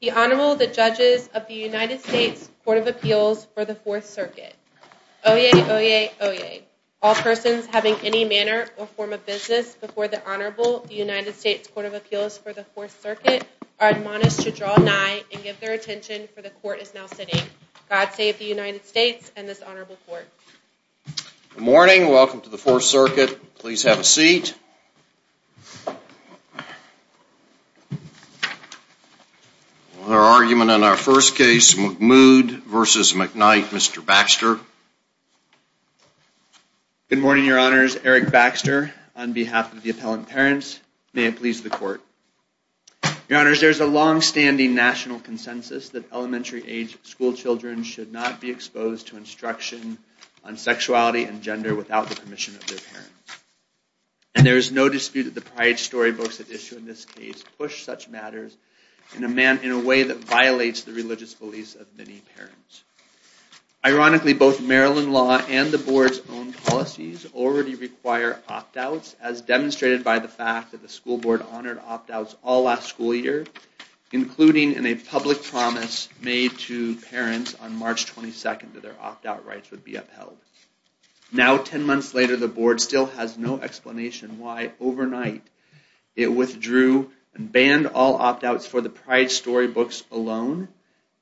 The Honorable, the Judges of the United States Court of Appeals for the Fourth Circuit. Oyez, oyez, oyez. All persons having any manner or form of business before the Honorable United States Court of Appeals for the Fourth Circuit are admonished to draw nigh and give their attention for the Court is now sitting. God save the United States and this Honorable Court. Good morning. Welcome to the Fourth Circuit. Please have a seat. Our argument in our first case, Mahmoud v. McKnight. Mr. Baxter. Good morning, Your Honors. Eric Baxter on behalf of the appellant parents. May it please the Court. Your Honors, there's a long-standing national consensus that elementary age school children should not be exposed to instruction on sexuality and gender without the permission of their parents. And there is no dispute that the pride story books that issue in this case push such matters in a way that violates the religious beliefs of many parents. Ironically, both Maryland law and the board's own policies already require opt-outs as demonstrated by the fact that the school board honored opt-outs all last school year, including in a public promise made to parents on March 22nd that their opt-out rights would be upheld. Now, 10 months later, the board still has no explanation why overnight it withdrew and banned all opt-outs for the pride story books alone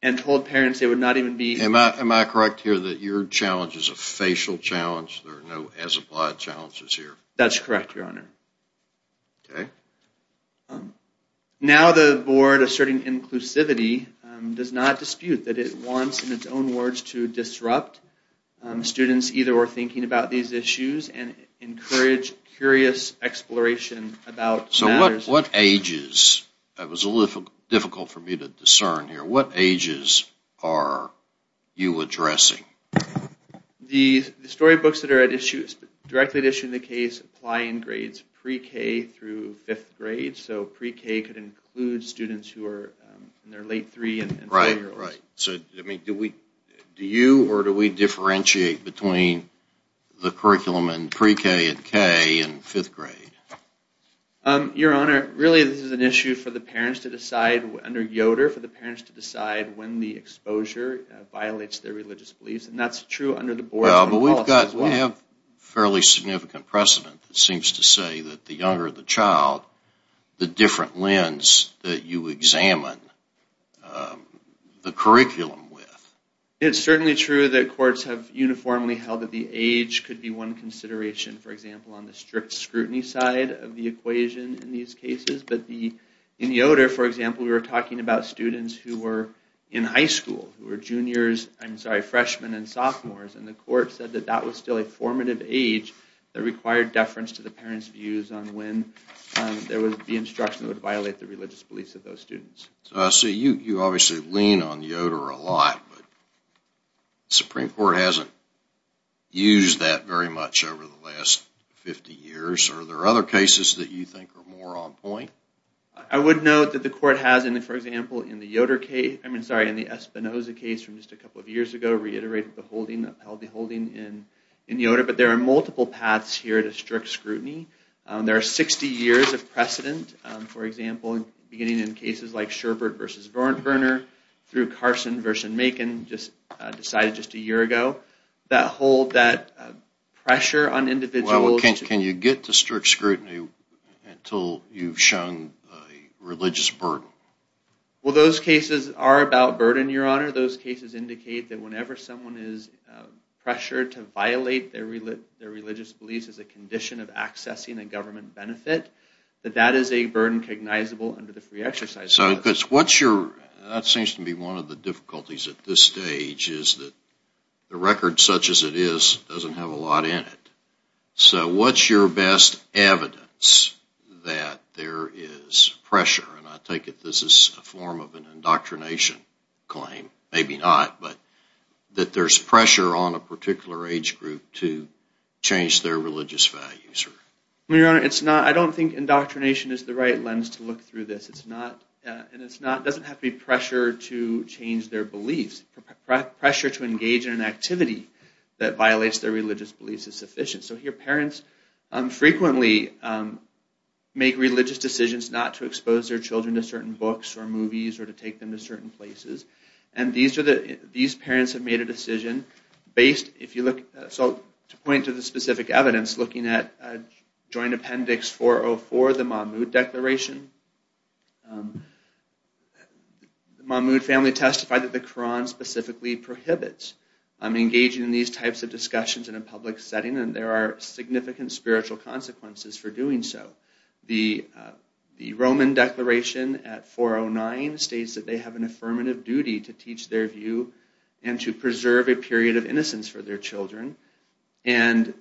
and told parents they would not even be... Am I correct here that your challenge is a facial challenge? There are no as-applied challenges here. That's correct, Your Honor. Okay. Now the board, asserting inclusivity, does not dispute that it wants, in its own words, to disrupt students either thinking about these issues and encourage curious exploration about matters... So what ages, that was a little difficult for me to discern here, what ages are you addressing? The story books that are at issue directly at issue in the case apply in grades pre-K through fifth grade, so pre-K could include students who are in their late three and four year olds. Right, right. So, I mean, do we, do you or do we differentiate between the curriculum in pre-K and K and fifth grade? Your Honor, really this is an issue for the parents to decide, under Yoder, for the parents to decide when the exposure violates their religious beliefs, and that's true under the fairly significant precedent that seems to say that the younger the child, the different lens that you examine the curriculum with. It's certainly true that courts have uniformly held that the age could be one consideration, for example, on the strict scrutiny side of the equation in these cases, but in Yoder, for example, we were talking about students who were in high school, who were juniors, I'm sorry, freshmen and sophomores, and the court said that that was still a formative age that required deference to the parents' views on when there was the instruction that would violate the religious beliefs of those students. So, you obviously lean on Yoder a lot, but the Supreme Court hasn't used that very much over the last 50 years. Are there other cases that you think are more on point? I would note that the court has, for example, in the Yoder case, I mean, sorry, in the Espinoza case from just a couple of years ago, reiterated the holding, held the holding in Yoder, but there are multiple paths here to strict scrutiny. There are 60 years of precedent, for example, beginning in cases like Sherbert v. Verner through Carson v. Macon, decided just a year ago, that hold that pressure on individuals. Well, can you get to strict scrutiny until you've shown religious burden? Well, those cases are about burden, those cases indicate that whenever someone is pressured to violate their religious beliefs as a condition of accessing a government benefit, that that is a burden cognizable under the Free Exercise Act. That seems to be one of the difficulties at this stage, is that the record such as it is doesn't have a lot in it. So, what's your best evidence that there is pressure, and I take it this is a form of an indoctrination claim, maybe not, but that there's pressure on a particular age group to change their religious values? Your Honor, it's not, I don't think indoctrination is the right lens to look through this. It's not, and it's not, it doesn't have to be pressure to change their beliefs. Pressure to engage in an activity that violates their religious beliefs is sufficient. So here, parents frequently make religious decisions not to expose their children to certain books or movies or to take them to certain places, and these are the, these parents have made a decision based, if you look, so to point to the specific evidence looking at Joint Appendix 404, the Mahmoud Declaration. The Mahmoud family testified that the Quran specifically prohibits engaging in these types of discussions in a public setting, and there are at 409 states that they have an affirmative duty to teach their view and to preserve a period of innocence for their children, and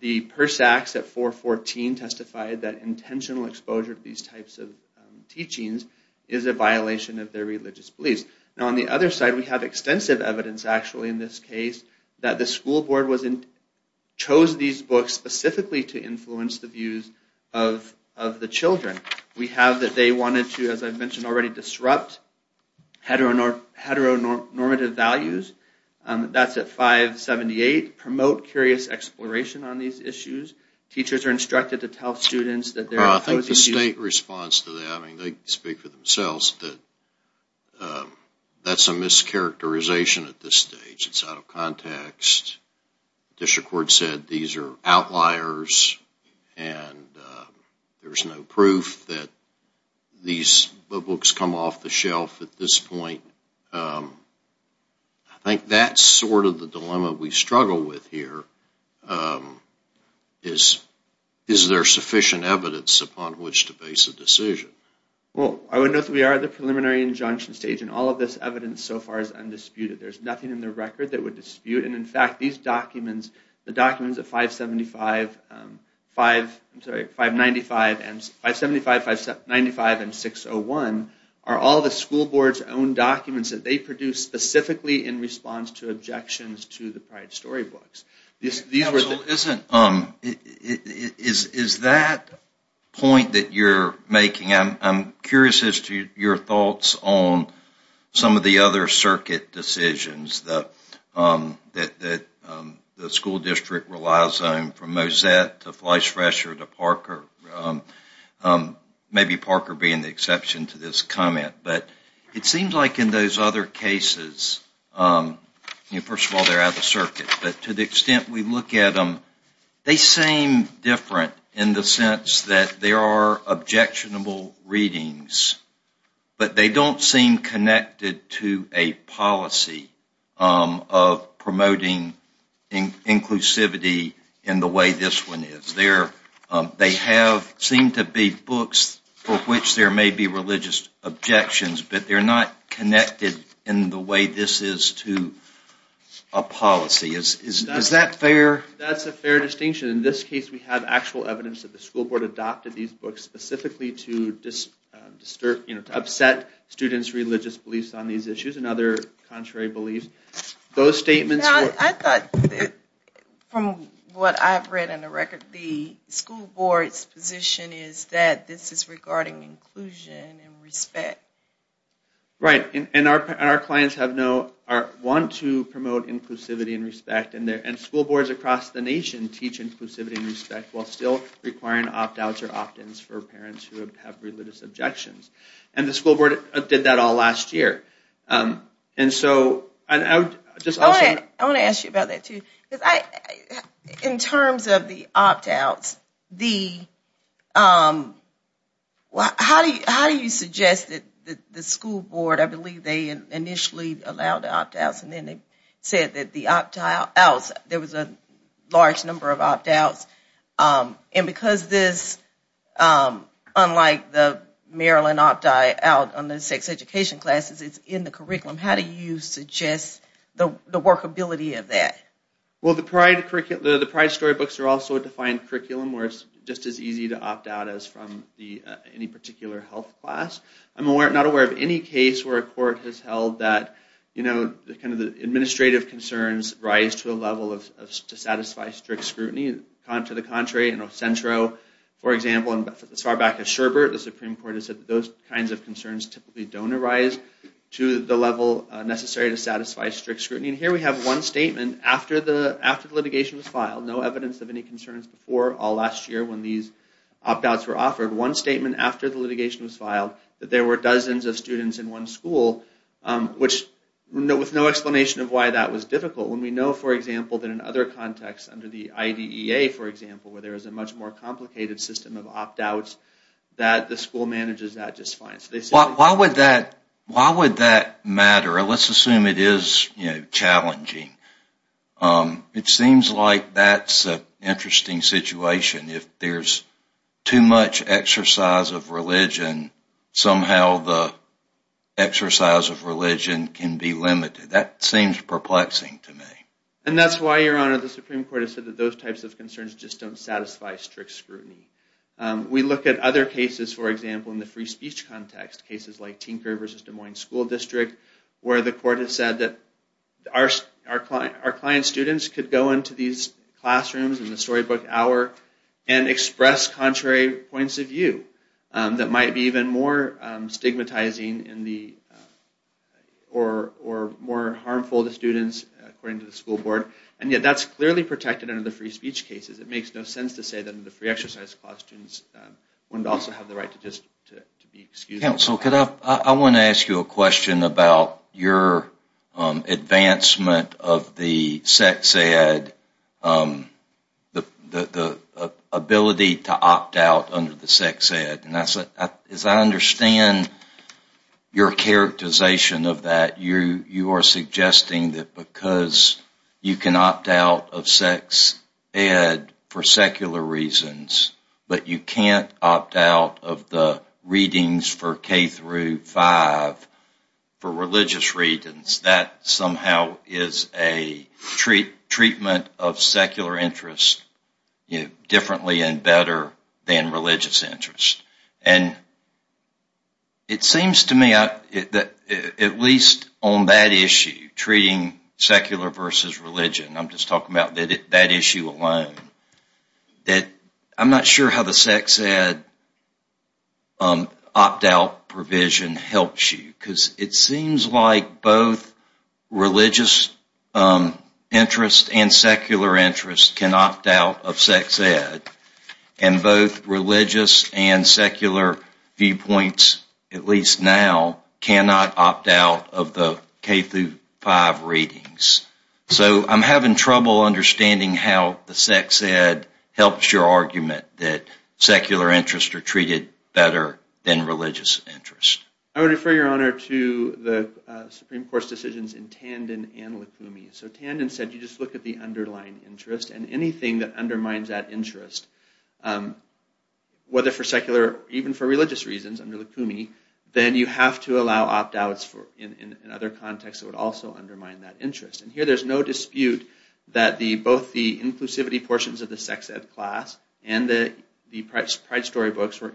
the Persacks at 414 testified that intentional exposure to these types of teachings is a violation of their religious beliefs. Now, on the other side, we have extensive evidence, actually, in this case that the school board was in, chose these books specifically to already disrupt heteronormative values. That's at 578. Promote curious exploration on these issues. Teachers are instructed to tell students that they're opposing... I think the state response to that, I mean, they speak for themselves, that that's a mischaracterization at this stage. It's there's no proof that these books come off the shelf at this point. I think that's sort of the dilemma we struggle with here, is there sufficient evidence upon which to base a decision? Well, I would note that we are at the preliminary injunction stage, and all of this evidence so far is undisputed. There's nothing in the record that would dispute, and in fact, these documents, the documents at 575, 595, and 601 are all the school board's own documents that they produced specifically in response to objections to the Pride storybooks. Is that point that you're making, I'm curious as to your thoughts on some of the other cases, the school district relies on from Mosette to Fleishfresher to Parker, maybe Parker being the exception to this comment, but it seems like in those other cases, first of all, they're out of the circuit, but to the extent we look at them, they seem different in the sense that there are objectionable readings, but they don't seem connected to a policy of promoting inclusivity in the way this one is. They seem to be books for which there may be religious objections, but they're not connected in the way this is to a policy. Is that fair? That's a fair distinction. In this case, we have actual evidence that the school district believes on these issues, and other contrary beliefs. Those statements... From what I've read on the record, the school board's position is that this is regarding inclusion and respect. Right, and our clients want to promote inclusivity and respect, and school boards across the nation teach inclusivity and respect while still requiring opt-outs or opt-ins for parents who have religious objections. The school board did that all last year. I want to ask you about that too. In terms of the opt-outs, how do you suggest that the school board, I believe they initially allowed the opt-outs, and then they said that the opt-outs, there was a large number of opt-outs, and because this, unlike the Maryland opt-out on the sex education classes, it's in the curriculum. How do you suggest the workability of that? Well, the pride storybooks are also a defined curriculum where it's just as easy to opt out as from any particular health class. I'm not aware of any case where a court has held that, you know, kind of the administrative concerns rise to a level of to satisfy strict scrutiny. To the contrary, in El Centro, for example, and as far back as Sherbert, the Supreme Court has said those kinds of concerns typically don't arise to the level necessary to satisfy strict scrutiny. And here we have one statement after the litigation was filed, no evidence of any concerns before all last year when these opt-outs were offered. One statement after the litigation was filed, that there were dozens of students in one school, which with no explanation of why that was difficult. When we know, for example, that in other contexts under the IDEA, for example, where there is a much more complicated system of opt-outs, that the school manages that just fine. Why would that matter? Let's assume it is, you know, challenging. It seems like that's an too much exercise of religion. Somehow the exercise of religion can be limited. That seems perplexing to me. And that's why, Your Honor, the Supreme Court has said that those types of concerns just don't satisfy strict scrutiny. We look at other cases, for example, in the free speech context. Cases like Tinker versus Des Moines School District, where the court has said that our client students could go into these classrooms in the storybook hour and express contrary points of view that might be even more stigmatizing or more harmful to students, according to the school board. And yet that's clearly protected under the free speech cases. It makes no sense to say that the free exercise class students wouldn't also have the right to just be excused. Counsel, I want to ask you a question about your advancement of the ability to opt out under the sex ed. As I understand your characterization of that, you are suggesting that because you can opt out of sex ed for secular reasons, but you can't opt out of the readings for K through 5 for religious reasons. That somehow is a treatment of secular interests differently and better than religious interests. And it seems to me that at least on that issue, treating secular versus religion, I'm just talking about that issue alone, that I'm not sure how the sex ed opt out provision helps you. Because it seems like both religious interest and secular interest can opt out of sex ed. And both religious and secular viewpoints, at least now, cannot opt out of the K through 5 readings. So I'm having trouble understanding how the sex ed helps your argument that secular interests are treated better than religious interests. I would refer your honor to the Supreme Court's decisions in Tandon and Lukumi. So Tandon said you just look at the underlying interest and anything that undermines that interest, whether for secular or even for religious reasons under Lukumi, then you have to allow opt outs in other contexts that would also undermine that interest. And here there's no dispute that both the inclusivity portions of the sex ed class and the pride storybooks were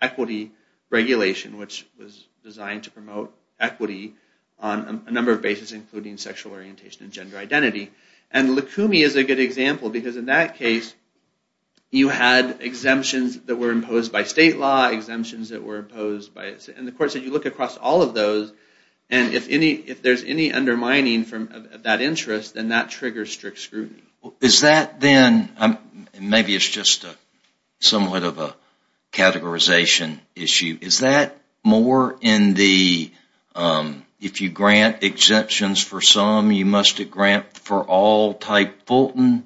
equity regulation, which was designed to promote equity on a number of bases, including sexual orientation and gender identity. And Lukumi is a good example, because in that case, you had exemptions that were imposed by state law, exemptions that were imposed by... And the court said you look across all of those, and if there's any undermining from that interest, then that triggers strict scrutiny. Is that then, and maybe it's just somewhat of a categorization issue, is that more in the, if you grant exemptions for some, you must grant for all type Fulton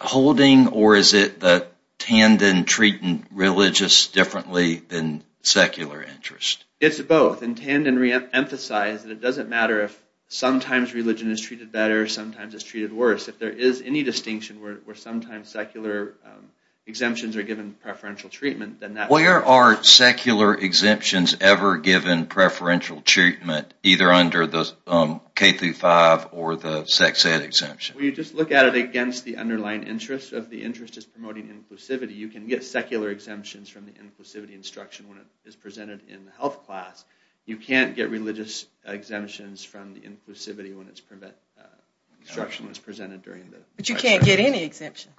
holding, or is it that Tandon treated religious differently than secular interest? It's both, and Tandon re-emphasized that it doesn't matter if sometimes religion is treated better, sometimes it's treated worse. If there is any distinction where sometimes secular exemptions are given preferential treatment, then that... Where are secular exemptions ever given preferential treatment, either under the K through 5 or the sex ed exemption? Well, you just look at it against the underlying interest, if the interest is promoting inclusivity, you can get secular exemptions from the inclusivity instruction when it is presented in the health class. You can't get religious exemptions from the inclusivity when the instruction is presented during the... But you can't get any exemptions.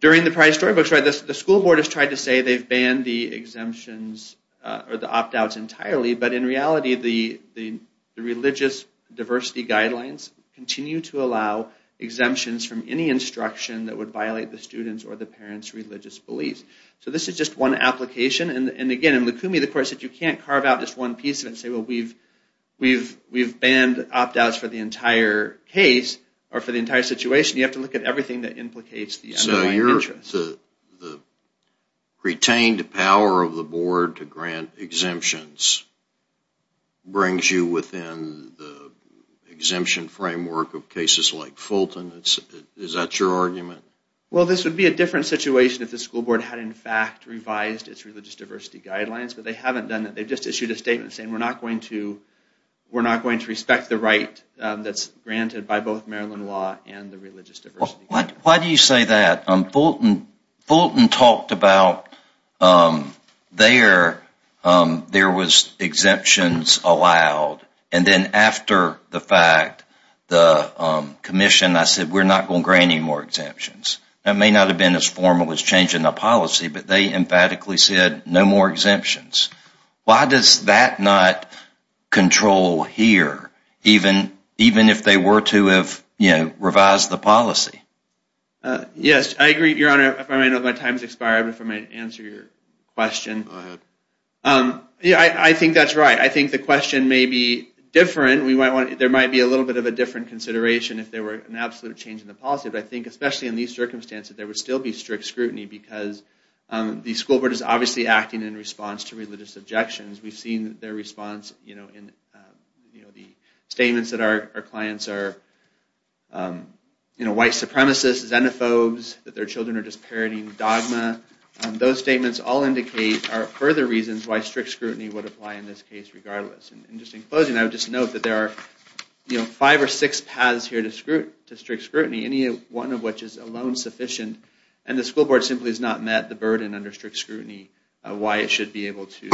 During the Price Storybooks, right, the school board has tried to say they've banned the exemptions, or the opt-outs entirely, but in reality the religious diversity guidelines continue to allow exemptions from any instruction that would violate the student's or the parent's religious beliefs. So this is just one application, and again, in Lukumi, of course, if you can't carve out just one piece of it and say, well, we've banned opt-outs for the entire case, or for the entire situation, you have to look at everything that implicates the underlying interest. So the retained power of the board to grant exemptions brings you within the exemption framework of cases like Fulton, is that your argument? Well, this would be a different situation if the school board had, in fact, revised its religious diversity guidelines, but they haven't done that. They've just issued a statement saying we're not going to respect the right that's granted by both Maryland law and the religious diversity guidelines. Why do you say that? Fulton talked about, there was exemptions allowed, and then after the fact, the commission, I said, we're not going to grant any more exemptions. That may not have been as formal as changing the policy, but they emphatically said no more exemptions. Why does that not control here, even if they were to have revised the policy? Yes, I agree, Your Honor. If I may, my time has expired, but if I may answer your question. Go ahead. Yeah, I think that's right. I think the question may be different. There might be a little bit of a different consideration if there were an absolute change in the policy, especially in these circumstances. There would still be strict scrutiny because the school board is obviously acting in response to religious objections. We've seen their response in the statements that our clients are white supremacists, xenophobes, that their children are just parroting dogma. Those statements all indicate further reasons why strict scrutiny would apply in this case regardless. Just in closing, I would just note that there are five or six paths here to strict scrutiny, any one of which is alone sufficient, and the school board simply has not met the burden under strict scrutiny of why it should be able to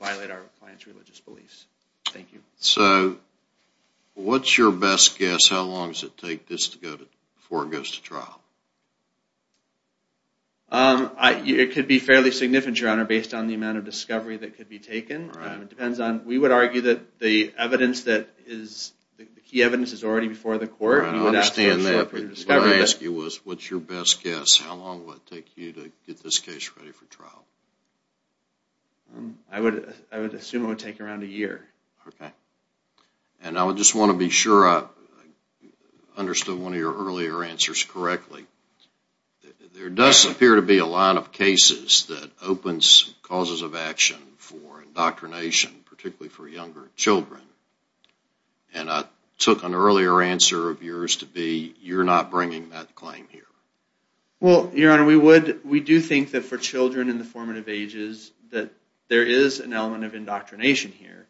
violate our client's religious beliefs. Thank you. So, what's your best guess? How long does it take this to go before it goes to trial? It could be fairly significant, Your Honor, based on the amount of discovery that could be taken. We would argue that the key evidence is already before the court. I understand that. What I asked you was, what's your best guess? How long would it take you to get this case ready for trial? I would assume it would take around a year. Okay. And I just want to be sure I understood one of your earlier answers correctly. There does appear to be a line of cases that opens causes of action for indoctrination, particularly for younger children, and I took an earlier answer of yours to be you're not bringing that claim here. Well, Your Honor, we would. We do think that for children in the formative ages that there is an element of indoctrination here.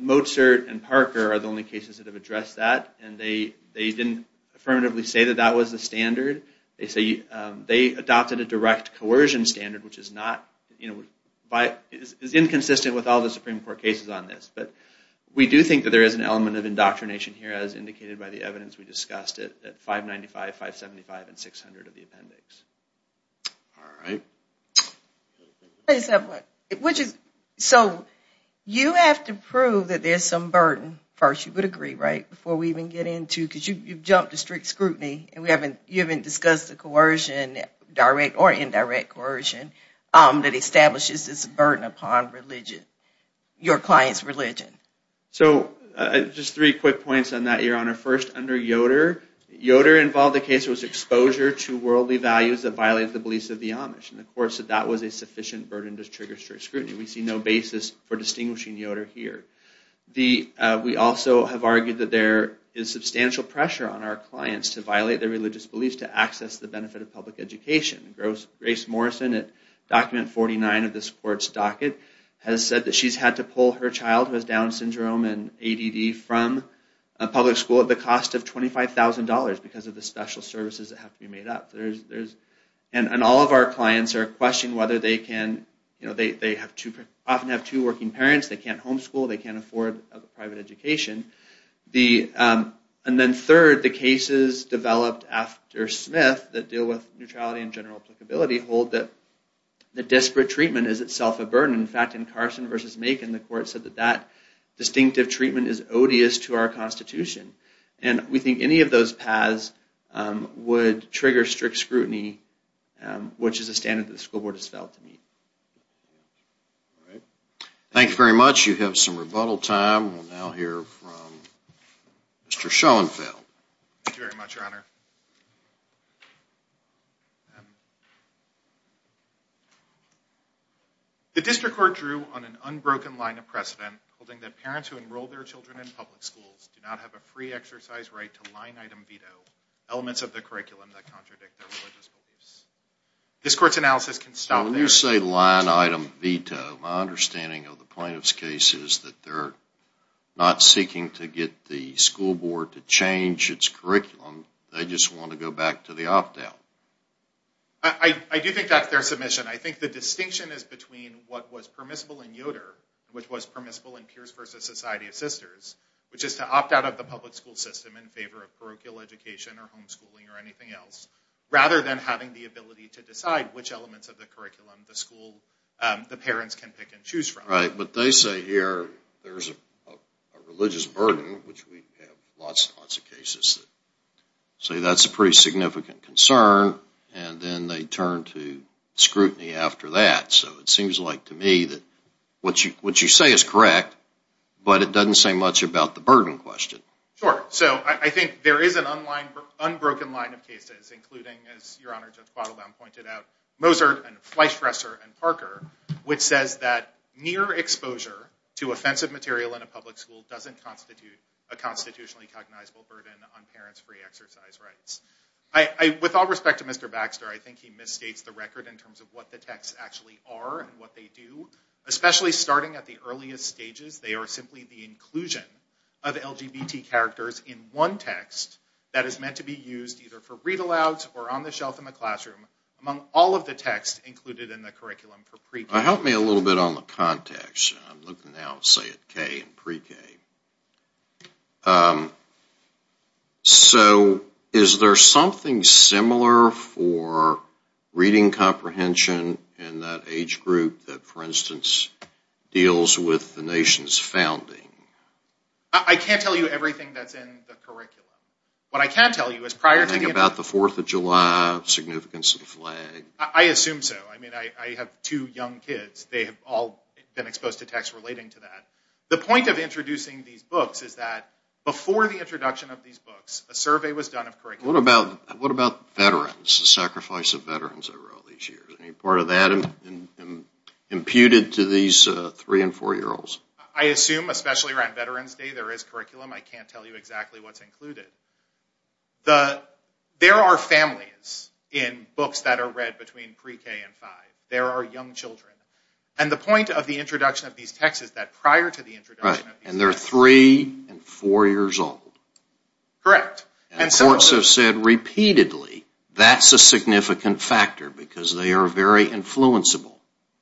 Mozart and Parker are the only cases that have addressed that, and they didn't affirmatively say that that was the standard. They adopted a direct coercion standard, which is inconsistent with all the Supreme Court cases on this, but we do think that there is an element of indoctrination here, as indicated by the evidence we discussed at 595, 575, and 600 of the appendix. All right. So, you have to prove that there's some burden first, you would agree, right, before we even get into, because you've jumped to strict scrutiny, and we haven't, you haven't discussed the coercion, direct or indirect coercion, that establishes this burden upon religion, your client's religion. So, just three quick points on that, Your Honor. First, under Yoder, Yoder involved a case that was exposure to worldly values that violated the beliefs of the Amish, and of course that was a sufficient burden to trigger strict scrutiny. We see no basis for there is substantial pressure on our clients to violate their religious beliefs to access the benefit of public education. Grace Morrison, at document 49 of this court's docket, has said that she's had to pull her child, who has Down syndrome and ADD, from a public school at the cost of $25,000 because of the special services that have to be made up. And all of our clients are questioning whether they can, you know, they often have two working parents, they can't homeschool, they can't the, and then third, the cases developed after Smith that deal with neutrality and general applicability hold that the disparate treatment is itself a burden. In fact, in Carson versus Macon, the court said that that distinctive treatment is odious to our constitution, and we think any of those paths would trigger strict scrutiny, which is a standard that the school board has failed to meet. All right, thank you very much. You have some rebuttal time. We'll now hear from Mr. Schoenfeld. Thank you very much, your honor. The district court drew on an unbroken line of precedent holding that parents who enroll their children in public schools do not have a free exercise right to line-item veto elements of the curriculum that contradict their religious beliefs. This court's analysis can stop there. When you say line-item veto, my understanding of the plaintiff's case is that they're not seeking to get the school board to change its curriculum, they just want to go back to the opt-out. I do think that's their submission. I think the distinction is between what was permissible in Yoder, which was permissible in Pierce versus Society of Sisters, which is to opt out of the public school system in favor of parochial education or homeschooling or anything else, rather than having the ability to decide which elements of the curriculum the school, the parents can pick and choose from. Right, but they say here there's a religious burden, which we have lots and lots of cases that say that's a pretty significant concern, and then they turn to scrutiny after that. So it seems like to me that what you say is correct, but it doesn't say much about the burden question. Sure, so I think there is an unbroken line of cases, including, as Your Honor, Judge Bottlebaum pointed out, Mozart and Fleischfresser and Parker, which says that near exposure to offensive material in a public school doesn't constitute a constitutionally cognizable burden on parents' free exercise rights. With all respect to Mr. Baxter, I think he misstates the record in terms of what the texts actually are and what they do, especially starting at the earliest stages. They are simply the inclusion of LGBT characters in text that is meant to be used either for read-alouds or on the shelf in the classroom among all of the texts included in the curriculum for pre-K. Help me a little bit on the context. I'm looking now, say, at K and pre-K. So is there something similar for reading comprehension in that age group that, for instance, deals with the nation's founding? I can't tell you everything that's in the curriculum. I assume so. I have two young kids. They have all been exposed to texts relating to that. The point of introducing these books is that before the introduction of these books, a survey was done of curriculum. What about veterans, the sacrifice of veterans over all these years? Any part of that imputed to these three- and four-year-olds? I assume, especially around Veterans Day, there is curriculum. I can't tell you exactly what's included. There are families in books that are read between pre-K and five. There are young children. And the point of the introduction of these texts is that prior to the introduction... Right. And they're three- and four-years-old. Correct. And courts have said repeatedly that's a significant factor because they are very influenceable.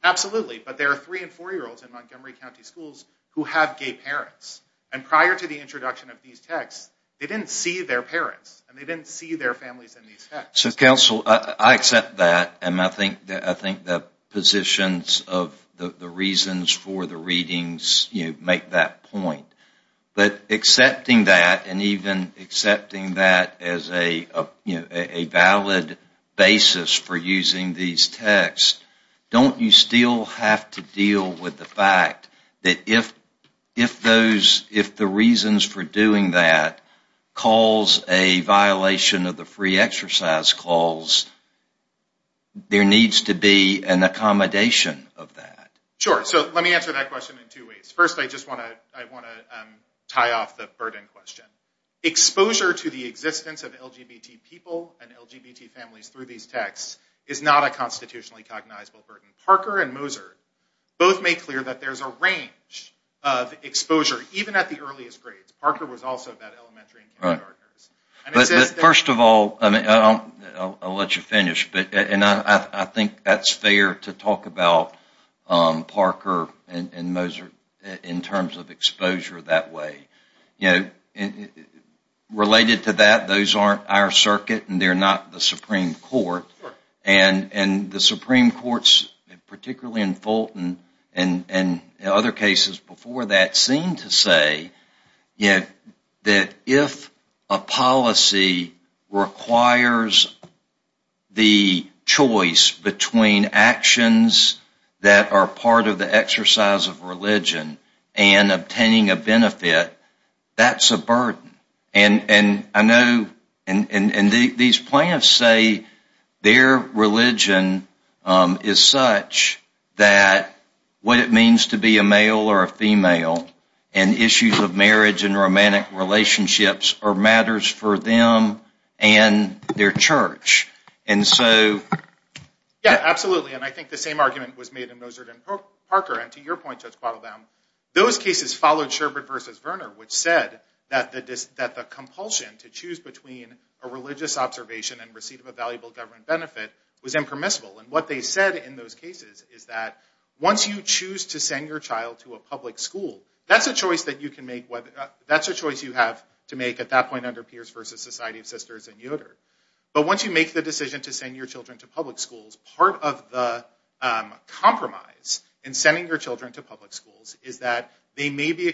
Absolutely. But there are three- and four-year-olds in Montgomery County schools who have gay parents. And prior to the introduction of these texts, they didn't see their parents, and they didn't see their families in these texts. So, counsel, I accept that, and I think the positions of the reasons for the readings make that point. But accepting that, and even accepting that as a valid basis for using these texts, don't you still have to deal with the fact that if the reasons for doing that cause a violation of the free exercise clause, there needs to be an accommodation of that? Sure. So let me answer that question in two ways. First, I just want to tie off the burden question. Exposure to the existence of LGBT people and LGBT families through these texts is not a constitutionally cognizable burden. Parker and Moser both made clear that there's a range of exposure, even at the earliest grades. Parker was also about elementary and kindergarteners. First of all, I'll let you finish, and I think that's fair to talk about Parker and Moser in terms of exposure that way. Related to that, those aren't our circuit, and they're not the Supreme Court, and the Supreme Courts, particularly in Fulton and other cases before that, seem to say that if a policy requires the choice between actions that are part of the exercise of religion and obtaining a benefit, that's a burden. And I know these plans say their religion is such that what it means to be a male or a female and issues of marriage and romantic relationships are matters for them and their church. Yeah, absolutely, and I think the same argument was made in Moser and Parker, and to your point, Judge Quattle-Down, those cases followed Sherbert versus Verner, which said that the compulsion to choose between a religious observation and receipt of a valuable government benefit was impermissible. And what they said in those cases is that once you choose to send your child to a public school, that's a choice you have to make at that point under Pierce versus Society of Sisters and Yoder. But once you make the decision to send your children to public schools, part of the compromise in sending your children to public schools is that they may be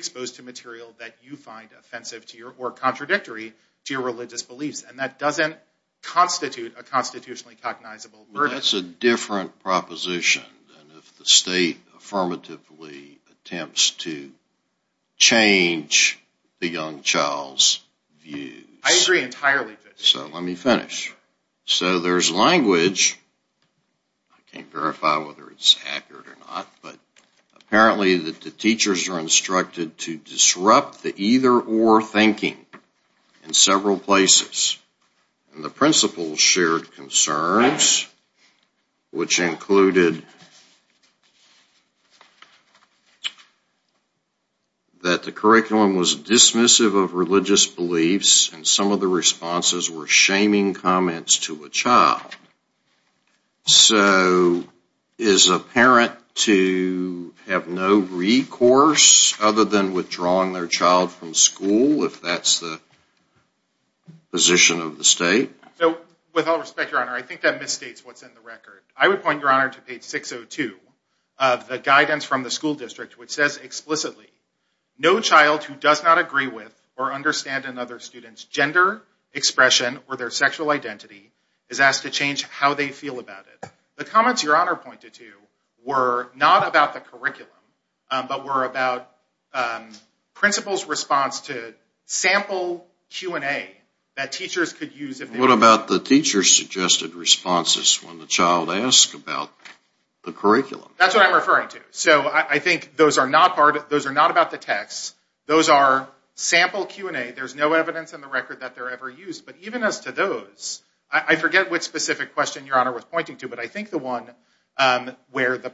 contradictory to your religious beliefs, and that doesn't constitute a constitutionally cognizable burden. Well, that's a different proposition than if the state affirmatively attempts to change the young child's views. I agree entirely. So let me finish. So there's language. I can't verify whether it's accurate or not, but apparently the teachers are instructed to disrupt the either-or thinking in several places. And the principals shared concerns, which included that the curriculum was dismissive of religious beliefs, and some of the responses were shaming comments to a child. So is a parent to have no recourse other than withdrawing their child from school, if that's the position of the state? So, with all respect, Your Honor, I think that misstates what's in the record. I would point, Your Honor, to page 602 of the guidance from the school district, which says explicitly, no child who does not agree with or understand another student's gender expression or their sexual identity is asked to change how they feel about it. The comments Your Honor pointed to were not about the curriculum, but were about principals' response to sample Q&A that teachers could use. What about the teacher's suggested responses when the child asks about the curriculum? That's what I'm referring to. So I think those are not about the text. Those are sample Q&A. There's no evidence in the record that they're ever used. But even as to those, I forget which the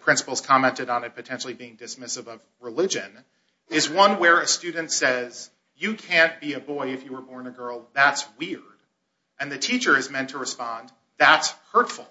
principals commented on it potentially being dismissive of religion, is one where a student says, you can't be a boy if you were born a girl. That's weird. And the teacher is meant to respond, that's hurtful.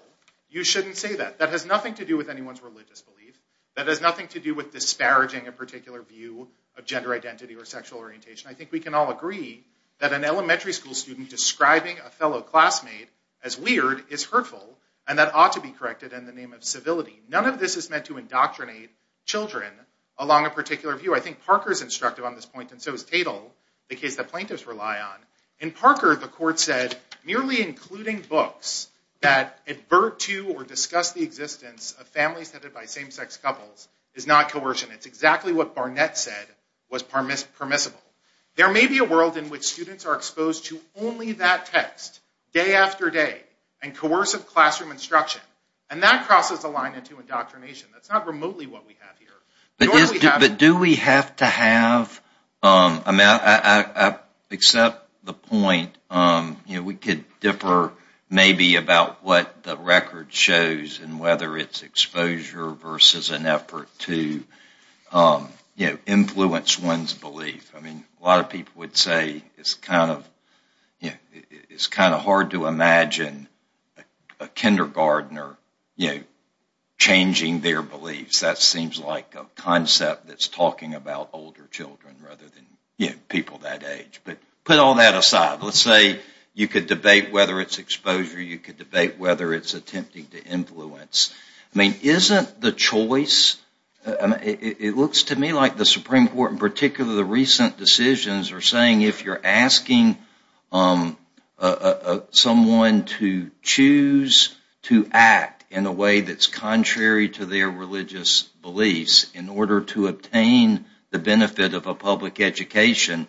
You shouldn't say that. That has nothing to do with anyone's religious belief. That has nothing to do with disparaging a particular view of gender identity or sexual orientation. I think we can all agree that an elementary school student describing a fellow classmate as weird is hurtful, and that ought to be corrected in the name of civility. None of this is meant to indoctrinate children along a particular view. I think Parker's instructive on this point, and so is Tatel, the case that plaintiffs rely on. In Parker, the court said, merely including books that advert to or discuss the existence of families headed by same-sex couples is not coercion. It's exactly what Barnett said was permissible. There may be a world in which students are exposed to only that text day after day, and coercive classroom instruction, and that crosses the line into indoctrination. That's not remotely what we have here. But do we have to have, I accept the point, we could differ maybe about what the record shows, and whether it's exposure versus an effort to influence one's belief. A lot of people would say it's kind of hard to imagine a kindergartner changing their beliefs. That seems like a concept that's talking about older children rather than people that age. But put all that aside, let's say you could debate whether it's exposure, you could debate whether it's attempting to influence. Isn't the choice, it looks to me like the Supreme Court, in particular the recent decisions, are saying if you're asking someone to choose to act in a way that's contrary to their religious beliefs in order to obtain the benefit of a public education,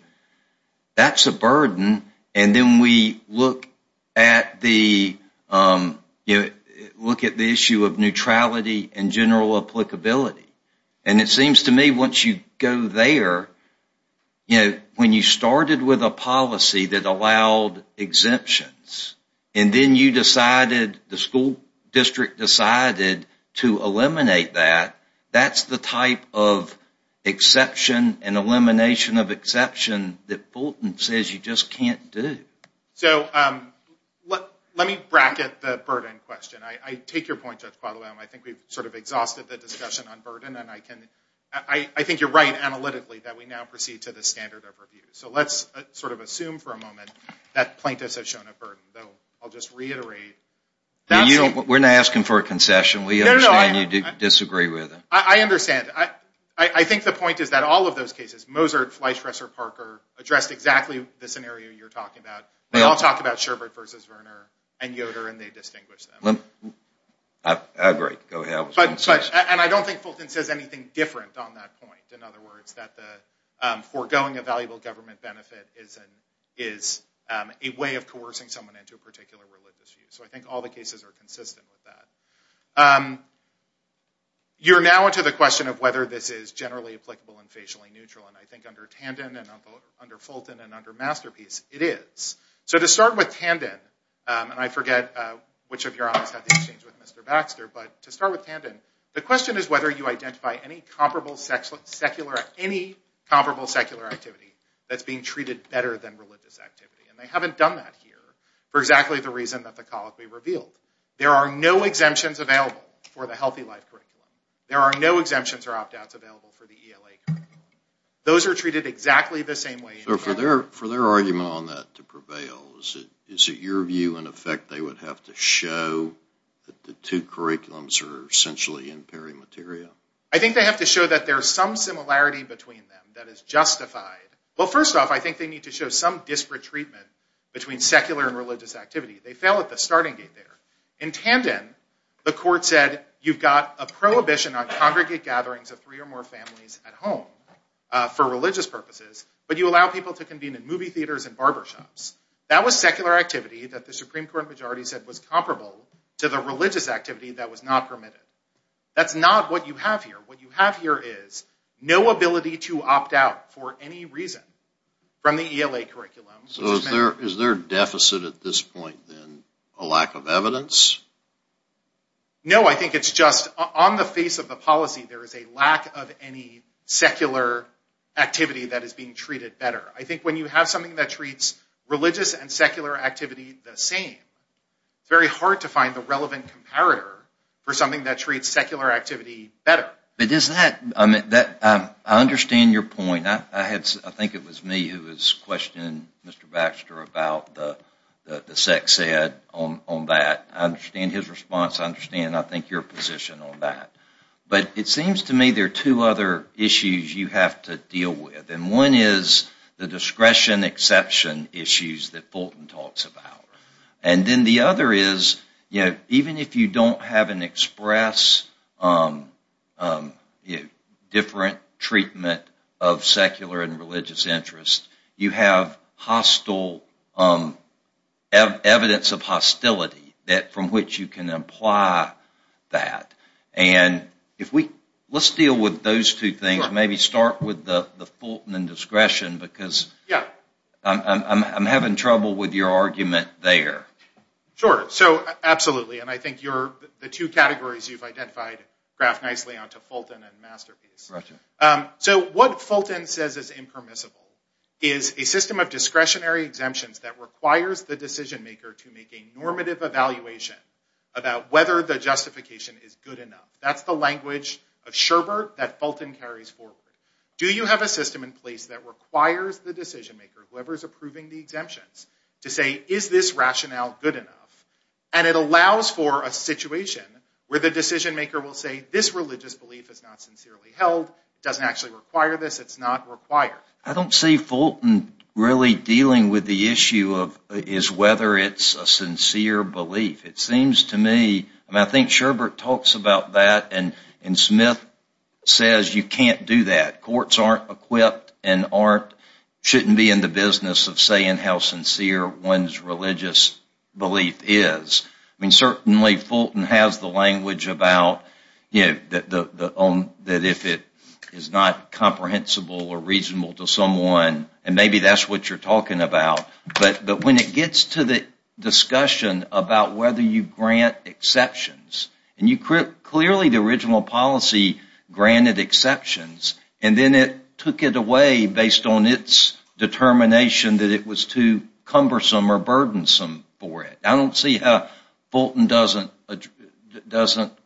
that's a burden. Then we look at the issue of neutrality and general applicability. It seems to me once you go there, you know, when you started with a policy that allowed exemptions, and then you decided, the school district decided to eliminate that, that's the type of exception and elimination of exception that Fulton says you just can't do. So let me bracket the burden question. I take your point, Judge Qualam, I think we've sort of exhausted the discussion on burden, and I think you're right analytically that we now proceed to the standard of review. So let's sort of assume for a moment that plaintiffs have shown a burden, though I'll just reiterate. We're not asking for a concession, we understand you disagree with it. I understand. I think the point is that all of those cases, Moser, Fleish, Resser, Parker, addressed exactly the scenario you're talking about. They all talk about Sherbert versus Verner and Yoder and they distinguish them. I agree. Go ahead. And I don't think Fulton says anything different on that point. In other words, that the foregoing a valuable government benefit is a way of coercing someone into a particular religious view. So I think all the cases are consistent with that. You're now into the question of whether this is generally applicable and facially neutral, and I think under Tandon and under Fulton and under Masterpiece, it is. So to start with Tandon, and I forget which of us had the exchange with Mr. Baxter, but to start with Tandon, the question is whether you identify any comparable secular activity that's being treated better than religious activity, and they haven't done that here for exactly the reason that the colic we revealed. There are no exemptions available for the healthy life curriculum. There are no exemptions or opt-outs available for the ELA curriculum. Those are treated exactly the same way. So for their argument on that to prevail, is it your view in effect they would have to show that the two curriculums are essentially in pairing material? I think they have to show that there's some similarity between them that is justified. Well, first off, I think they need to show some disparate treatment between secular and religious activity. They fell at the starting gate there. In Tandon, the court said you've got a prohibition on congregate gatherings of three or more families at home for religious purposes, but you allow people to convene in movie theaters and barber shops. That was secular activity that the Supreme Court majority said was comparable to the religious activity that was not permitted. That's not what you have here. What you have here is no ability to opt out for any reason from the ELA curriculum. So is there a deficit at this point then, a lack of evidence? No, I think it's just on the face of the policy, there is a secular activity that is being treated better. I think when you have something that treats religious and secular activity the same, it's very hard to find the relevant comparator for something that treats secular activity better. I understand your point. I think it was me who was questioning Mr. Baxter about the SEC said on that. I understand his response. I understand, I think, your position on that. But it seems to me there are two other issues you have to deal with. And one is the discretion exception issues that Fulton talks about. And then the other is, even if you don't have an express different treatment of secular and religious interests, you have hostile evidence of hostility from which you can apply that. And let's deal with those two things. Maybe start with the Fulton and discretion, because I'm having trouble with your argument there. Sure, so absolutely. And I think the two categories you've identified graph nicely onto Fulton and Masterpiece. So what Fulton says is impermissible is a system of discretionary exemptions that requires the decision maker to make a normative evaluation about whether the justification is good enough. That's the language of Sherbert that Fulton carries forward. Do you have a system in place that requires the decision maker, whoever is approving the exemptions, to say, is this rationale good enough? And it allows for a situation where the decision maker will say, this religious belief is not sincerely held. It doesn't actually require this. It's not required. I don't see Fulton really dealing with the issue of whether it's a sincere belief. It seems to me, and I think Sherbert talks about that, and Smith says, you can't do that. Courts aren't equipped and shouldn't be in the business of saying how sincere one's religious belief is. Certainly Fulton has the language about that if it is not comprehensible or reasonable to someone, and maybe that's what you're talking about. But when it gets to the discussion about whether you grant exceptions, and clearly the original policy granted exceptions, and then it took it away based on its determination that it was too cumbersome or burdensome for it. I don't see how Fulton doesn't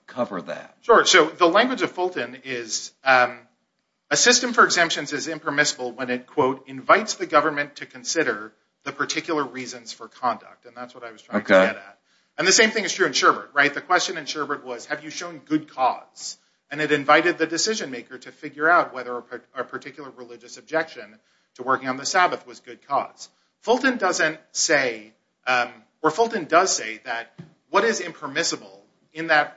cover that. Sure. So the language of Fulton is a system for exemptions is impermissible when it, quote, invites the government to consider the particular reasons for conduct. And that's what I was trying to get at. And the same thing is true in Sherbert, right? The question in Sherbert was, have you shown good cause? And it invited the decision maker to figure out whether a particular religious objection to working on the Sabbath was good cause. Fulton doesn't say, or Fulton does say that what is impermissible in a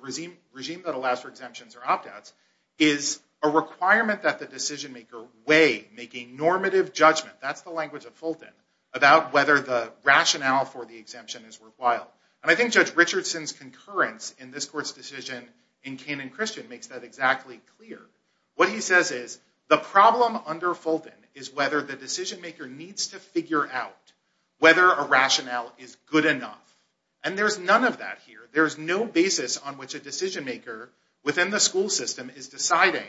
regime that allows for exemptions or opt-outs is a requirement that the decision maker weigh, make a normative judgment, that's the language of Fulton, about whether the rationale for the exemption is worthwhile. And I think Judge Richardson's concurrence in this decision in Canaan Christian makes that exactly clear. What he says is the problem under Fulton is whether the decision maker needs to figure out whether a rationale is good enough. And there's none of that here. There's no basis on which a decision maker within the school system is deciding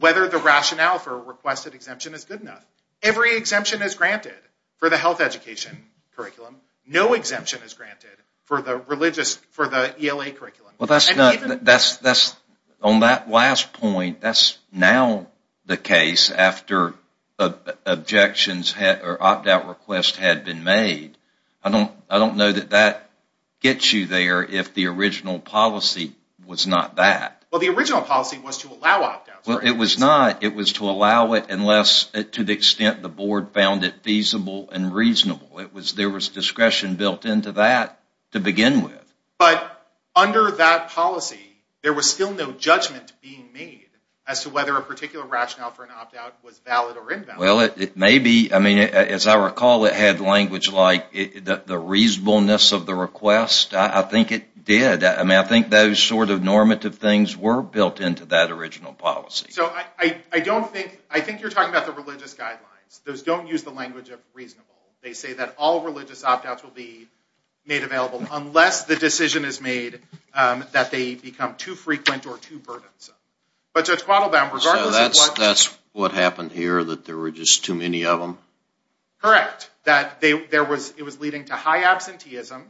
whether the rationale for a requested exemption is good enough. Every exemption is granted for the health education curriculum. No exemption is granted for the religious, for the ELA curriculum. Well, that's not, that's, that's, on that last point, that's now the case after objections or opt-out requests had been made. I don't, I don't know that that gets you there if the original policy was not that. Well, the original policy was to allow opt-outs. Well, it was not. It was to allow it unless to the extent the board found it feasible and reasonable. It was, there was discretion built into that to begin with. But under that policy, there was still no judgment being made as to whether a particular rationale for an opt-out was valid or invalid. Well, it may be. I mean, as I recall, it had language like the reasonableness of the request. I think it did. I mean, I think those sort of normative things were built into that original policy. So, I don't think, I think you're talking about the religious guidelines. Those don't use the language of reasonable. They say that all religious opt-outs will be made available unless the decision is made that they become too frequent or too burdensome. But Judge Quattlebaum, regardless of what... So, that's, that's what happened here, that there were just too many of them? Correct. That they, there was, it was leading to high absenteeism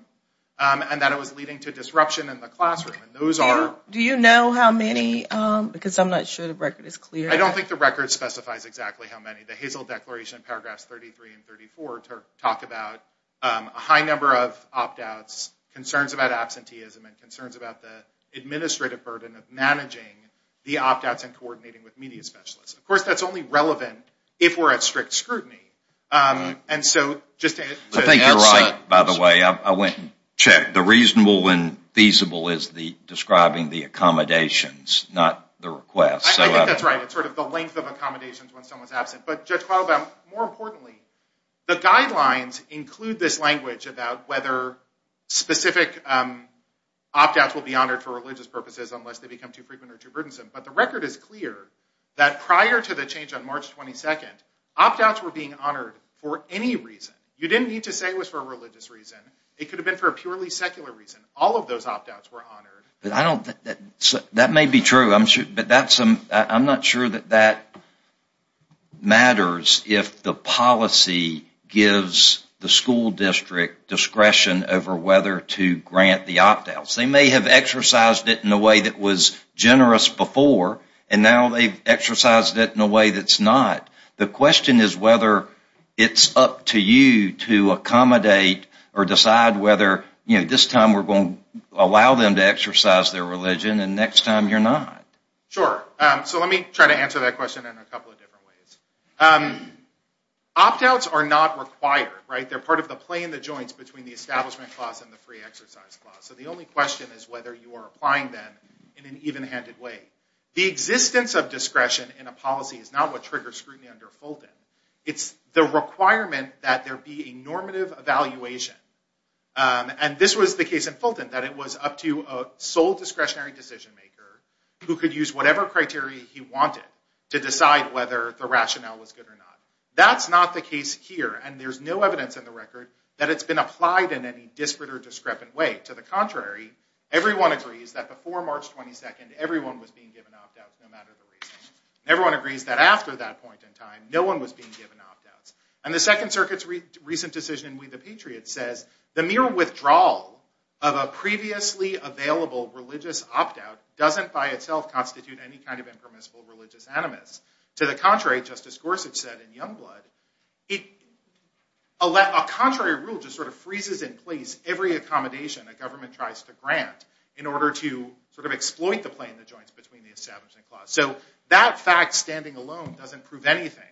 and that it was leading to disruption in the classroom. And those are... Do you know how many? Because I'm not sure the record is clear. I don't think the record specifies exactly how many. The Hazel Declaration, paragraphs 33 and 34 talk about a high number of opt-outs, concerns about absenteeism, and concerns about the administrative burden of managing the opt-outs and coordinating with media specialists. Of course, that's only relevant if we're at strict scrutiny. And so, just to... I think you're right, by the way. I went and checked. The reasonable and feasible is the accommodations, not the request. I think that's right. It's sort of the length of accommodations when someone's absent. But Judge Quattlebaum, more importantly, the guidelines include this language about whether specific opt-outs will be honored for religious purposes unless they become too frequent or too burdensome. But the record is clear that prior to the change on March 22nd, opt-outs were being honored for any reason. You didn't need to say it was for a religious reason. It could have been for a purely secular reason. All of those opt-outs were honored. That may be true, but I'm not sure that that matters if the policy gives the school district discretion over whether to grant the opt-outs. They may have exercised it in a way that was generous before, and now they've exercised it in a way that's not. The question is whether it's up to you to accommodate or decide whether this time we're going to allow them to exercise their religion and next time you're not. Sure. So let me try to answer that question in a couple of different ways. Opt-outs are not required. They're part of the play in the joints between the establishment clause and the free exercise clause. So the only question is whether you are applying them in an even-handed way. The existence of discretion in a policy is not what triggers scrutiny under Fulton. It's the requirement that there be a normative evaluation and this was the case in Fulton that it was up to a sole discretionary decision maker who could use whatever criteria he wanted to decide whether the rationale was good or not. That's not the case here, and there's no evidence in the record that it's been applied in any disparate or discrepant way. To the contrary, everyone agrees that before March 22nd, everyone was being given opt-outs no matter the reason. Everyone agrees that after that point in mere withdrawal of a previously available religious opt-out doesn't by itself constitute any kind of impermissible religious animus. To the contrary, Justice Gorsuch said in Youngblood, a contrary rule just sort of freezes in place every accommodation a government tries to grant in order to sort of exploit the play in the joints between the establishment clause. So that fact standing alone doesn't prove anything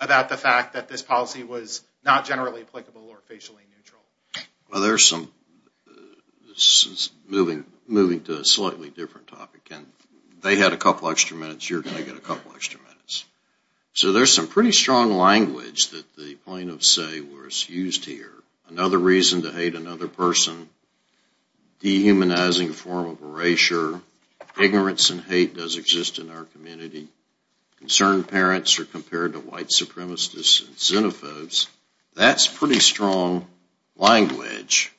about the fact that this policy was not generally applicable or facially neutral. Well there's some, this is moving to a slightly different topic, and they had a couple extra minutes, you're going to get a couple extra minutes. So there's some pretty strong language that the plaintiffs say was used here. Another reason to hate another person, dehumanizing form of erasure, ignorance and hate does exist in our That's pretty strong language.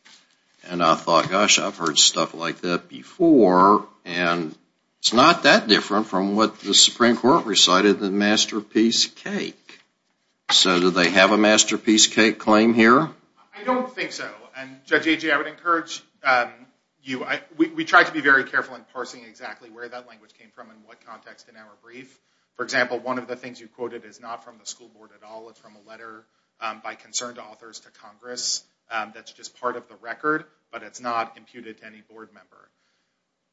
And I thought, gosh, I've heard stuff like that before, and it's not that different from what the Supreme Court recited in Masterpiece Cake. So do they have a Masterpiece Cake claim here? I don't think so. And Judge Agee, I would encourage you, we tried to be very careful in parsing exactly where that language came from and what context in our brief. For example, one of the things you quoted is not from the school board at all. It's from a letter by concerned authors to Congress that's just part of the record, but it's not imputed to any board member.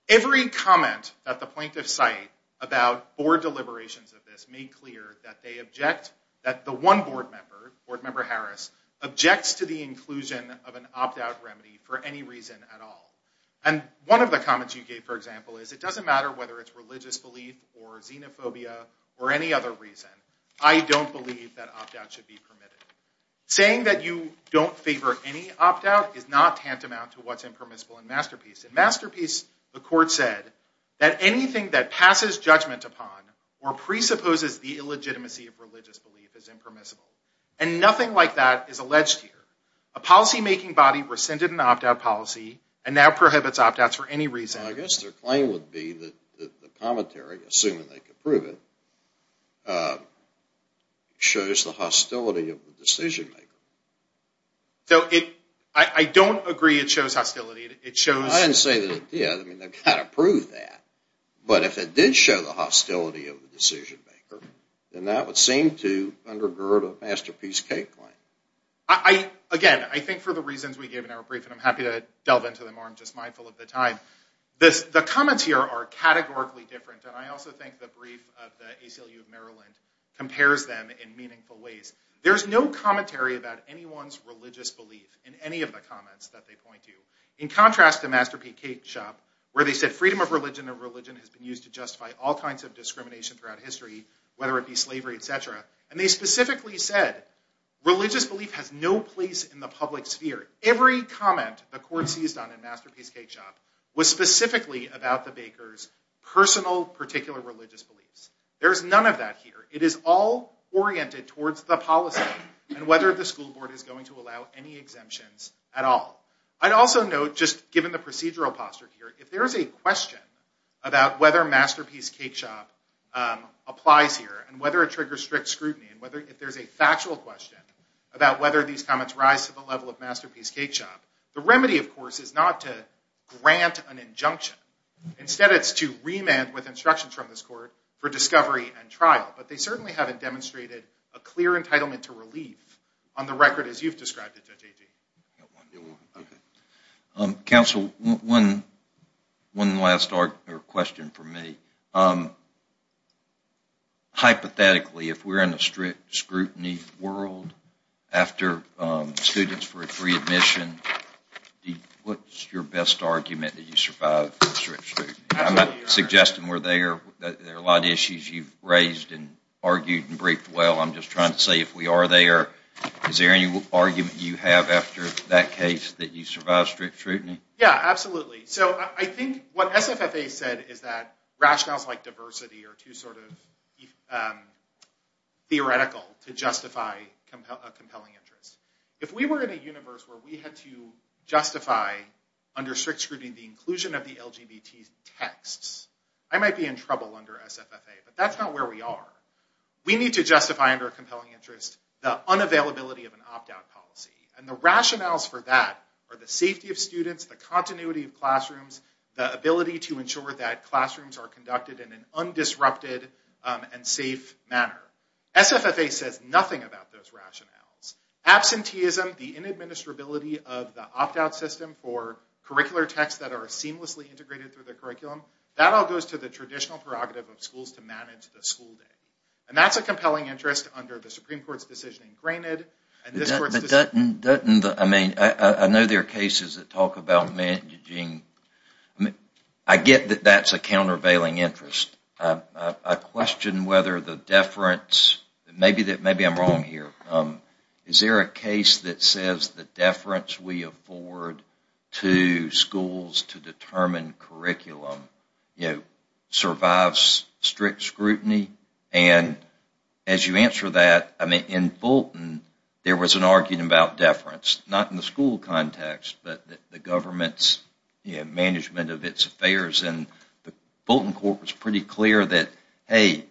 Every comment at the plaintiff's site about board deliberations of this made clear that they object, that the one board member, board member Harris, objects to the inclusion of an opt-out remedy for any reason at all. And one of the comments you gave, for example, is it doesn't matter whether it's religious belief or xenophobia or any other reason, I don't believe that opt-out should be permitted. Saying that you don't favor any opt-out is not tantamount to what's impermissible in Masterpiece. In Masterpiece, the court said that anything that passes judgment upon or presupposes the illegitimacy of religious belief is impermissible. And nothing like that is alleged here. A policy making body rescinded an opt-out policy and now prohibits opt-outs for any reason. I guess their claim would be that the commentary, assuming they could prove it, shows the hostility of the decision maker. I don't agree it shows hostility. I didn't say that it did. I mean, they've got to prove that. But if it did show the hostility of the decision maker, then that would seem to undergird a Masterpiece K claim. Again, I think for the reasons we gave in our brief, and I'm happy to delve into them more, just mindful of the time, the comments here are categorically different. And I also think the brief of the ACLU of Maryland compares them in meaningful ways. There's no commentary about anyone's religious belief in any of the comments that they point to. In contrast to Masterpiece K shop, where they said freedom of religion or religion has been used to justify all kinds of discrimination throughout history, whether it be slavery, et cetera. And they specifically said religious belief has no place in the public sphere. Every comment the court seized on in Masterpiece K shop was specifically about the baker's personal particular religious beliefs. There is none of that here. It is all oriented towards the policy and whether the school board is going to allow any exemptions at all. I'd also note, just given the procedural posture here, if there is a question about whether Masterpiece K shop applies here and whether it triggers strict about whether these comments rise to the level of Masterpiece K shop, the remedy, of course, is not to grant an injunction. Instead, it's to remand with instructions from this court for discovery and trial. But they certainly haven't demonstrated a clear entitlement to relief on the record as you've described it, Judge Agee. Counsel, one last question for me. Hypothetically, if we're in a strict world after students for a free admission, what's your best argument that you survive strict scrutiny? I'm not suggesting we're there. There are a lot of issues you've raised and argued and briefed. Well, I'm just trying to say if we are there, is there any argument you have after that case that you survive strict scrutiny? Yeah, absolutely. So I think what SFFA said is rationales like diversity are too sort of theoretical to justify a compelling interest. If we were in a universe where we had to justify under strict scrutiny the inclusion of the LGBT texts, I might be in trouble under SFFA. But that's not where we are. We need to justify under a compelling interest the unavailability of an opt-out policy. And the rationales for that are the safety of students, the continuity of classrooms, the ability to ensure that classrooms are conducted in an undisrupted and safe manner. SFFA says nothing about those rationales. Absenteeism, the inadministrability of the opt-out system for curricular texts that are seamlessly integrated through the curriculum, that all goes to the traditional prerogative of schools to manage the school day. And that's a compelling interest under the Supreme Court's decision. I know there are cases that talk about managing. I get that that's a countervailing interest. I question whether the deference, maybe I'm wrong here, is there a case that says the deference we afford to schools to determine curriculum survives strict scrutiny? And as you mentioned, in Bolton, there was an argument about deference, not in the school context, but the government's management of its affairs. And the Bolton court was pretty clear that, hey,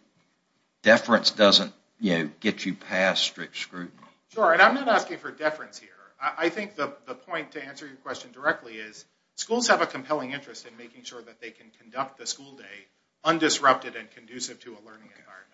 deference doesn't get you past strict scrutiny. Sure, and I'm not asking for deference here. I think the point, to answer your question directly, is schools have a compelling interest in making sure that they can conduct the school day undisrupted and conducive to a learning environment.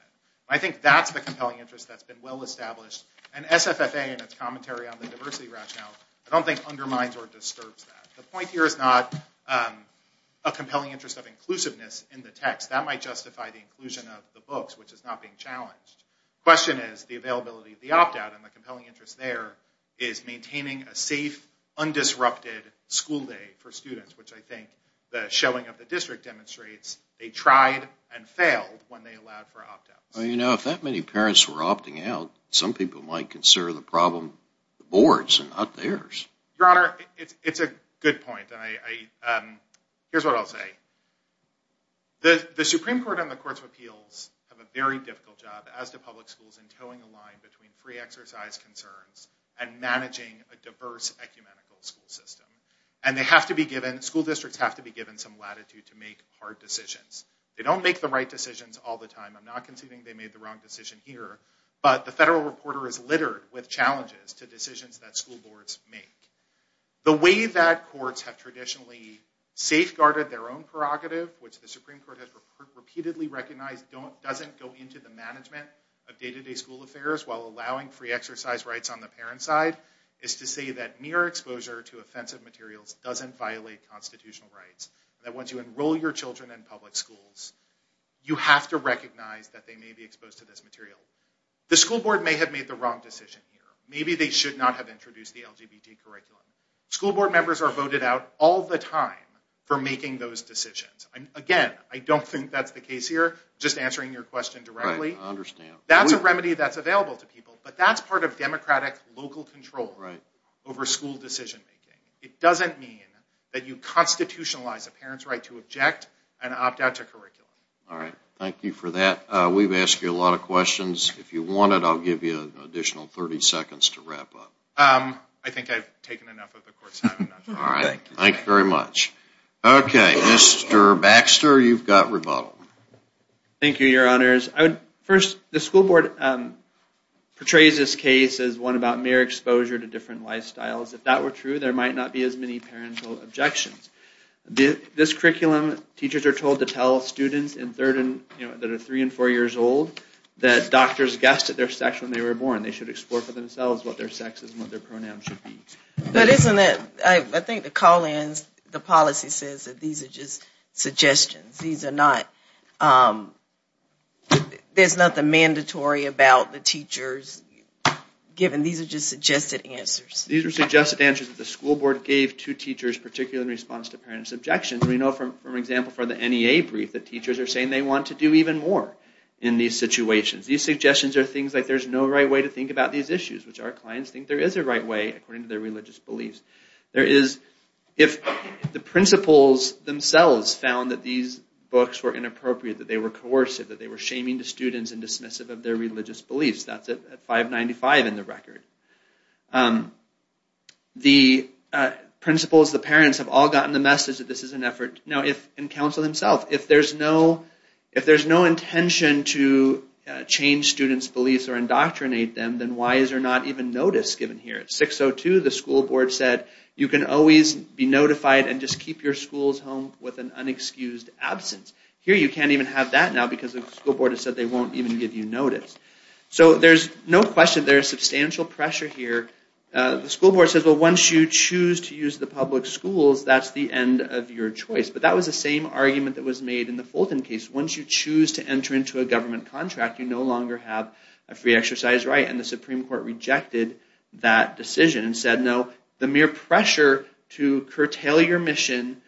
I think that's the compelling interest that's been well established. And SFFA, in its commentary on the diversity rationale, I don't think undermines or disturbs that. The point here is not a compelling interest of inclusiveness in the text. That might justify the inclusion of the books, which is not being challenged. The question is the availability of the opt-out. And the compelling interest there is maintaining a safe, undisrupted school day for students, which I think the showing of the district demonstrates they tried and failed when they allowed for opt-outs. Well, you know, if that many parents were opting out, some people might consider the problem the board's and not theirs. Your Honor, it's a good point. Here's what I'll say. The Supreme Court and the Courts of Appeals have a very difficult job, as do public schools, in toeing the line between free exercise concerns and managing a diverse, ecumenical school system. And school districts have to be given some latitude to make hard decisions all the time. I'm not conceding they made the wrong decision here, but the federal reporter is littered with challenges to decisions that school boards make. The way that courts have traditionally safeguarded their own prerogative, which the Supreme Court has repeatedly recognized doesn't go into the management of day-to-day school affairs while allowing free exercise rights on the parent's side, is to say that mere exposure to offensive materials doesn't violate constitutional rights. That once you enroll your children in public schools, you have to recognize that they may be exposed to this material. The school board may have made the wrong decision here. Maybe they should not have introduced the LGBT curriculum. School board members are voted out all the time for making those decisions. Again, I don't think that's the case here, just answering your question directly. I understand. That's a remedy that's available to people, but that's part of democratic local control over school decision making. It doesn't mean that you constitutionalize a parent's right to object and opt out to curriculum. All right, thank you for that. We've asked you a lot of questions. If you wanted, I'll give you an additional 30 seconds to wrap up. I think I've taken enough of the court's time. All right, thank you very much. Okay, Mr. Baxter, you've got rebuttal. Thank you, your honors. First, the school board portrays this case as one about mere exposure to different lifestyles. If that were true, there might not be as many parental objections. This curriculum, teachers are told to tell students that are three and four years old that doctors guessed at their sex when they were born. They should explore for themselves what their sex is and what their pronouns should be. But isn't it, I think the call-ins, the policy says that these are just suggestions. These are not, there's nothing mandatory about the teachers, given these are just suggested answers. These are just answers that the school board gave to teachers, particularly in response to parents' objections. We know from, for example, from the NEA brief that teachers are saying they want to do even more in these situations. These suggestions are things like there's no right way to think about these issues, which our clients think there is a right way according to their religious beliefs. There is, if the principals themselves found that these books were inappropriate, that they were coercive, that they were shaming to students and dismissive of their religious beliefs. That's at 595 in the record. The principals, the parents have all gotten the message that this is an effort. Now if, and counsel themselves, if there's no intention to change students' beliefs or indoctrinate them, then why is there not even notice given here? At 602, the school board said you can always be notified and just keep your schools home with an unexcused absence. Here you can't even have that now because the school board has said they won't even give you notice. So there's no question there is substantial pressure here. The school board says, well, once you choose to use the public schools, that's the end of your choice. But that was the same argument that was made in the Fulton case. Once you choose to enter into a government contract, you no longer have a free exercise right. And the Supreme Court rejected that decision and said, no, the mere pressure to curtail your mission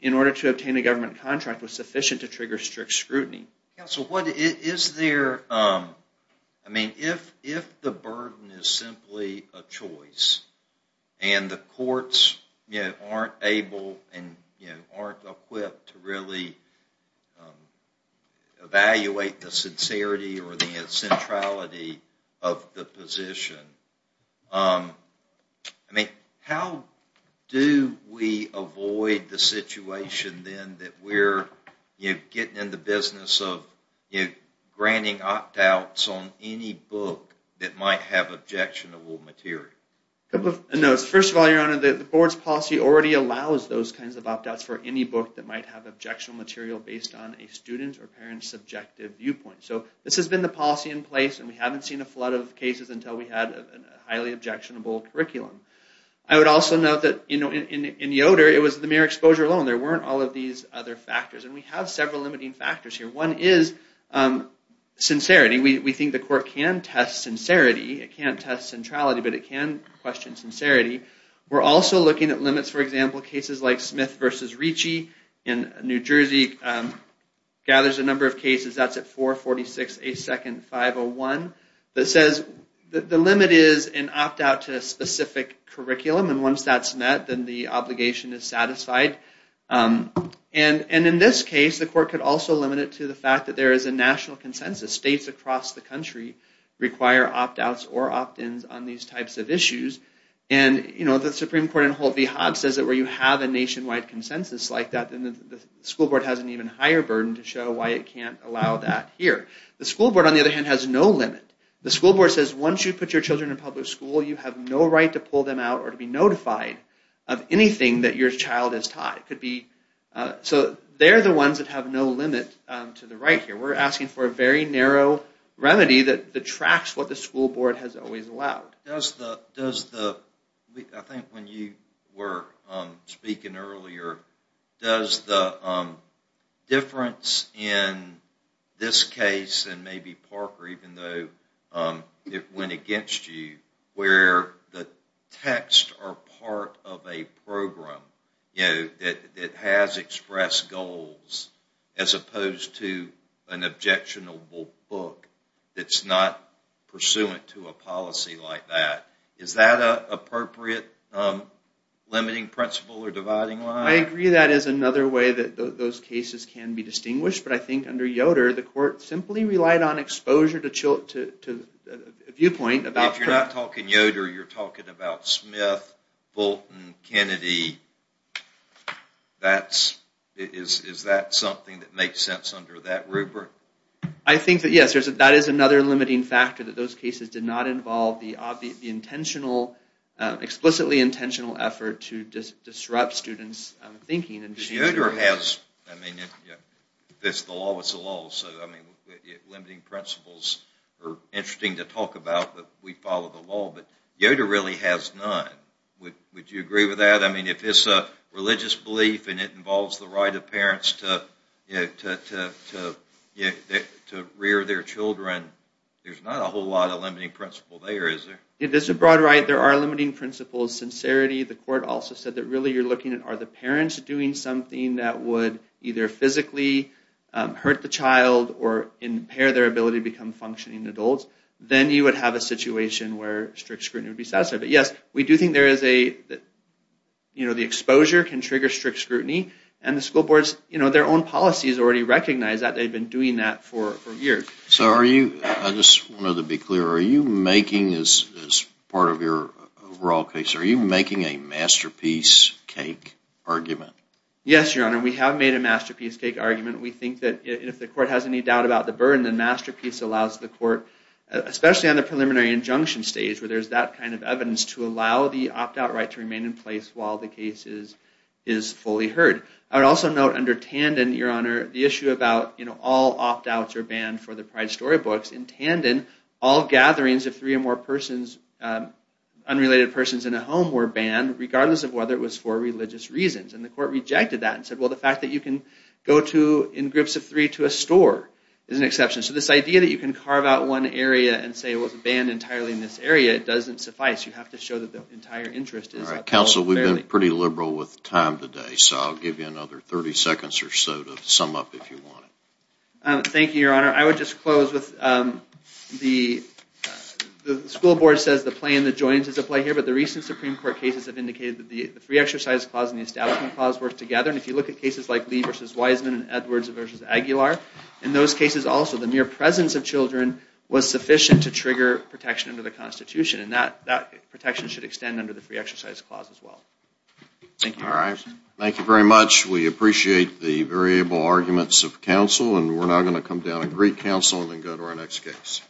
in order to obtain a Counsel, what, is there, I mean, if the burden is simply a choice and the courts, you know, aren't able and, you know, aren't equipped to really evaluate the sincerity or the centrality of the position. I mean, how do we avoid the situation then that we're, you know, getting in the business of, you know, granting opt-outs on any book that might have objectionable material? A couple of notes. First of all, your honor, the board's policy already allows those kinds of opt-outs for any book that might have objectionable material based on a student or We haven't seen a flood of cases until we had a highly objectionable curriculum. I would also note that, you know, in Yoder, it was the mere exposure alone. There weren't all of these other factors. And we have several limiting factors here. One is sincerity. We think the court can test sincerity. It can't test centrality, but it can question sincerity. We're also looking at limits, for example, cases like Smith v. Ricci in New Jersey gathers a number of cases. That's at one that says the limit is an opt-out to a specific curriculum. And once that's met, then the obligation is satisfied. And in this case, the court could also limit it to the fact that there is a national consensus. States across the country require opt-outs or opt-ins on these types of issues. And, you know, the Supreme Court in Holt v. Hobbs says that where you have a nationwide consensus like that, then the school board has an even higher burden to show why it can't allow that here. The school board, on the other hand, has no limit. The school board says once you put your children in public school, you have no right to pull them out or to be notified of anything that your child is taught. It could be... So they're the ones that have no limit to the right here. We're asking for a very narrow remedy that tracks what the school board has always allowed. Does the... I think when you were speaking earlier, does the difference in this case, and maybe Parker, even though it went against you, where the texts are part of a program, you know, that has expressed goals as opposed to an objectionable book that's not pursuant to a policy like that. Is that an appropriate limiting principle or dividing line? I agree that is another way that those cases can be distinguished, but I think under Yoder, the court simply relied on exposure to a viewpoint about... If you're not talking Yoder, you're talking about Smith, Bolton, Kennedy. That's... Is that something that makes sense under that rubric? I think that, yes, that is another limiting factor that those cases did not involve the obvious, the intentional, explicitly intentional effort to disrupt students' thinking. Yoder has... I mean, if it's the law, it's the law. So, I mean, limiting principles are interesting to talk about, but we follow the law, but Yoder really has none. Would you agree with that? I mean, if it's a religious belief and it involves the right of parents to, you know, to rear their children, there's not a whole lot of limiting principle there, is there? If this is a broad right, there are limiting principles. Sincerity, the court also said that really you're looking at are the parents doing something that would either physically hurt the child or impair their ability to become functioning adults, then you would have a situation where strict scrutiny would be satisfied. But yes, we do think there is a, you know, the exposure can already recognize that they've been doing that for years. So are you, I just wanted to be clear, are you making, as part of your overall case, are you making a masterpiece cake argument? Yes, Your Honor, we have made a masterpiece cake argument. We think that if the court has any doubt about the burden, then masterpiece allows the court, especially on the preliminary injunction stage where there's that kind of evidence, to allow the opt-out right to remain in place while the case is fully heard. I would also note under Tandon, Your Honor, the issue about, you know, all opt-outs are banned for the Pride storybooks. In Tandon, all gatherings of three or more unrelated persons in a home were banned, regardless of whether it was for religious reasons. And the court rejected that and said, well, the fact that you can go to, in groups of three, to a store is an exception. So this idea that you can carve out one area and say, well, it's banned entirely in this area, it doesn't suffice. You have to show that the entire interest is upheld. All right, we're pretty liberal with time today, so I'll give you another 30 seconds or so to sum up if you want it. Thank you, Your Honor. I would just close with the school board says the play in the joints is a play here, but the recent Supreme Court cases have indicated that the free exercise clause and the establishment clause work together. And if you look at cases like Lee versus Wiseman and Edwards versus Aguilar, in those cases also, the mere presence of children was sufficient to trigger protection under the Constitution. And that protection should extend under the free exercise clause. All right, thank you very much. We appreciate the variable arguments of counsel, and we're now going to come down and greet counsel and then go to our next case.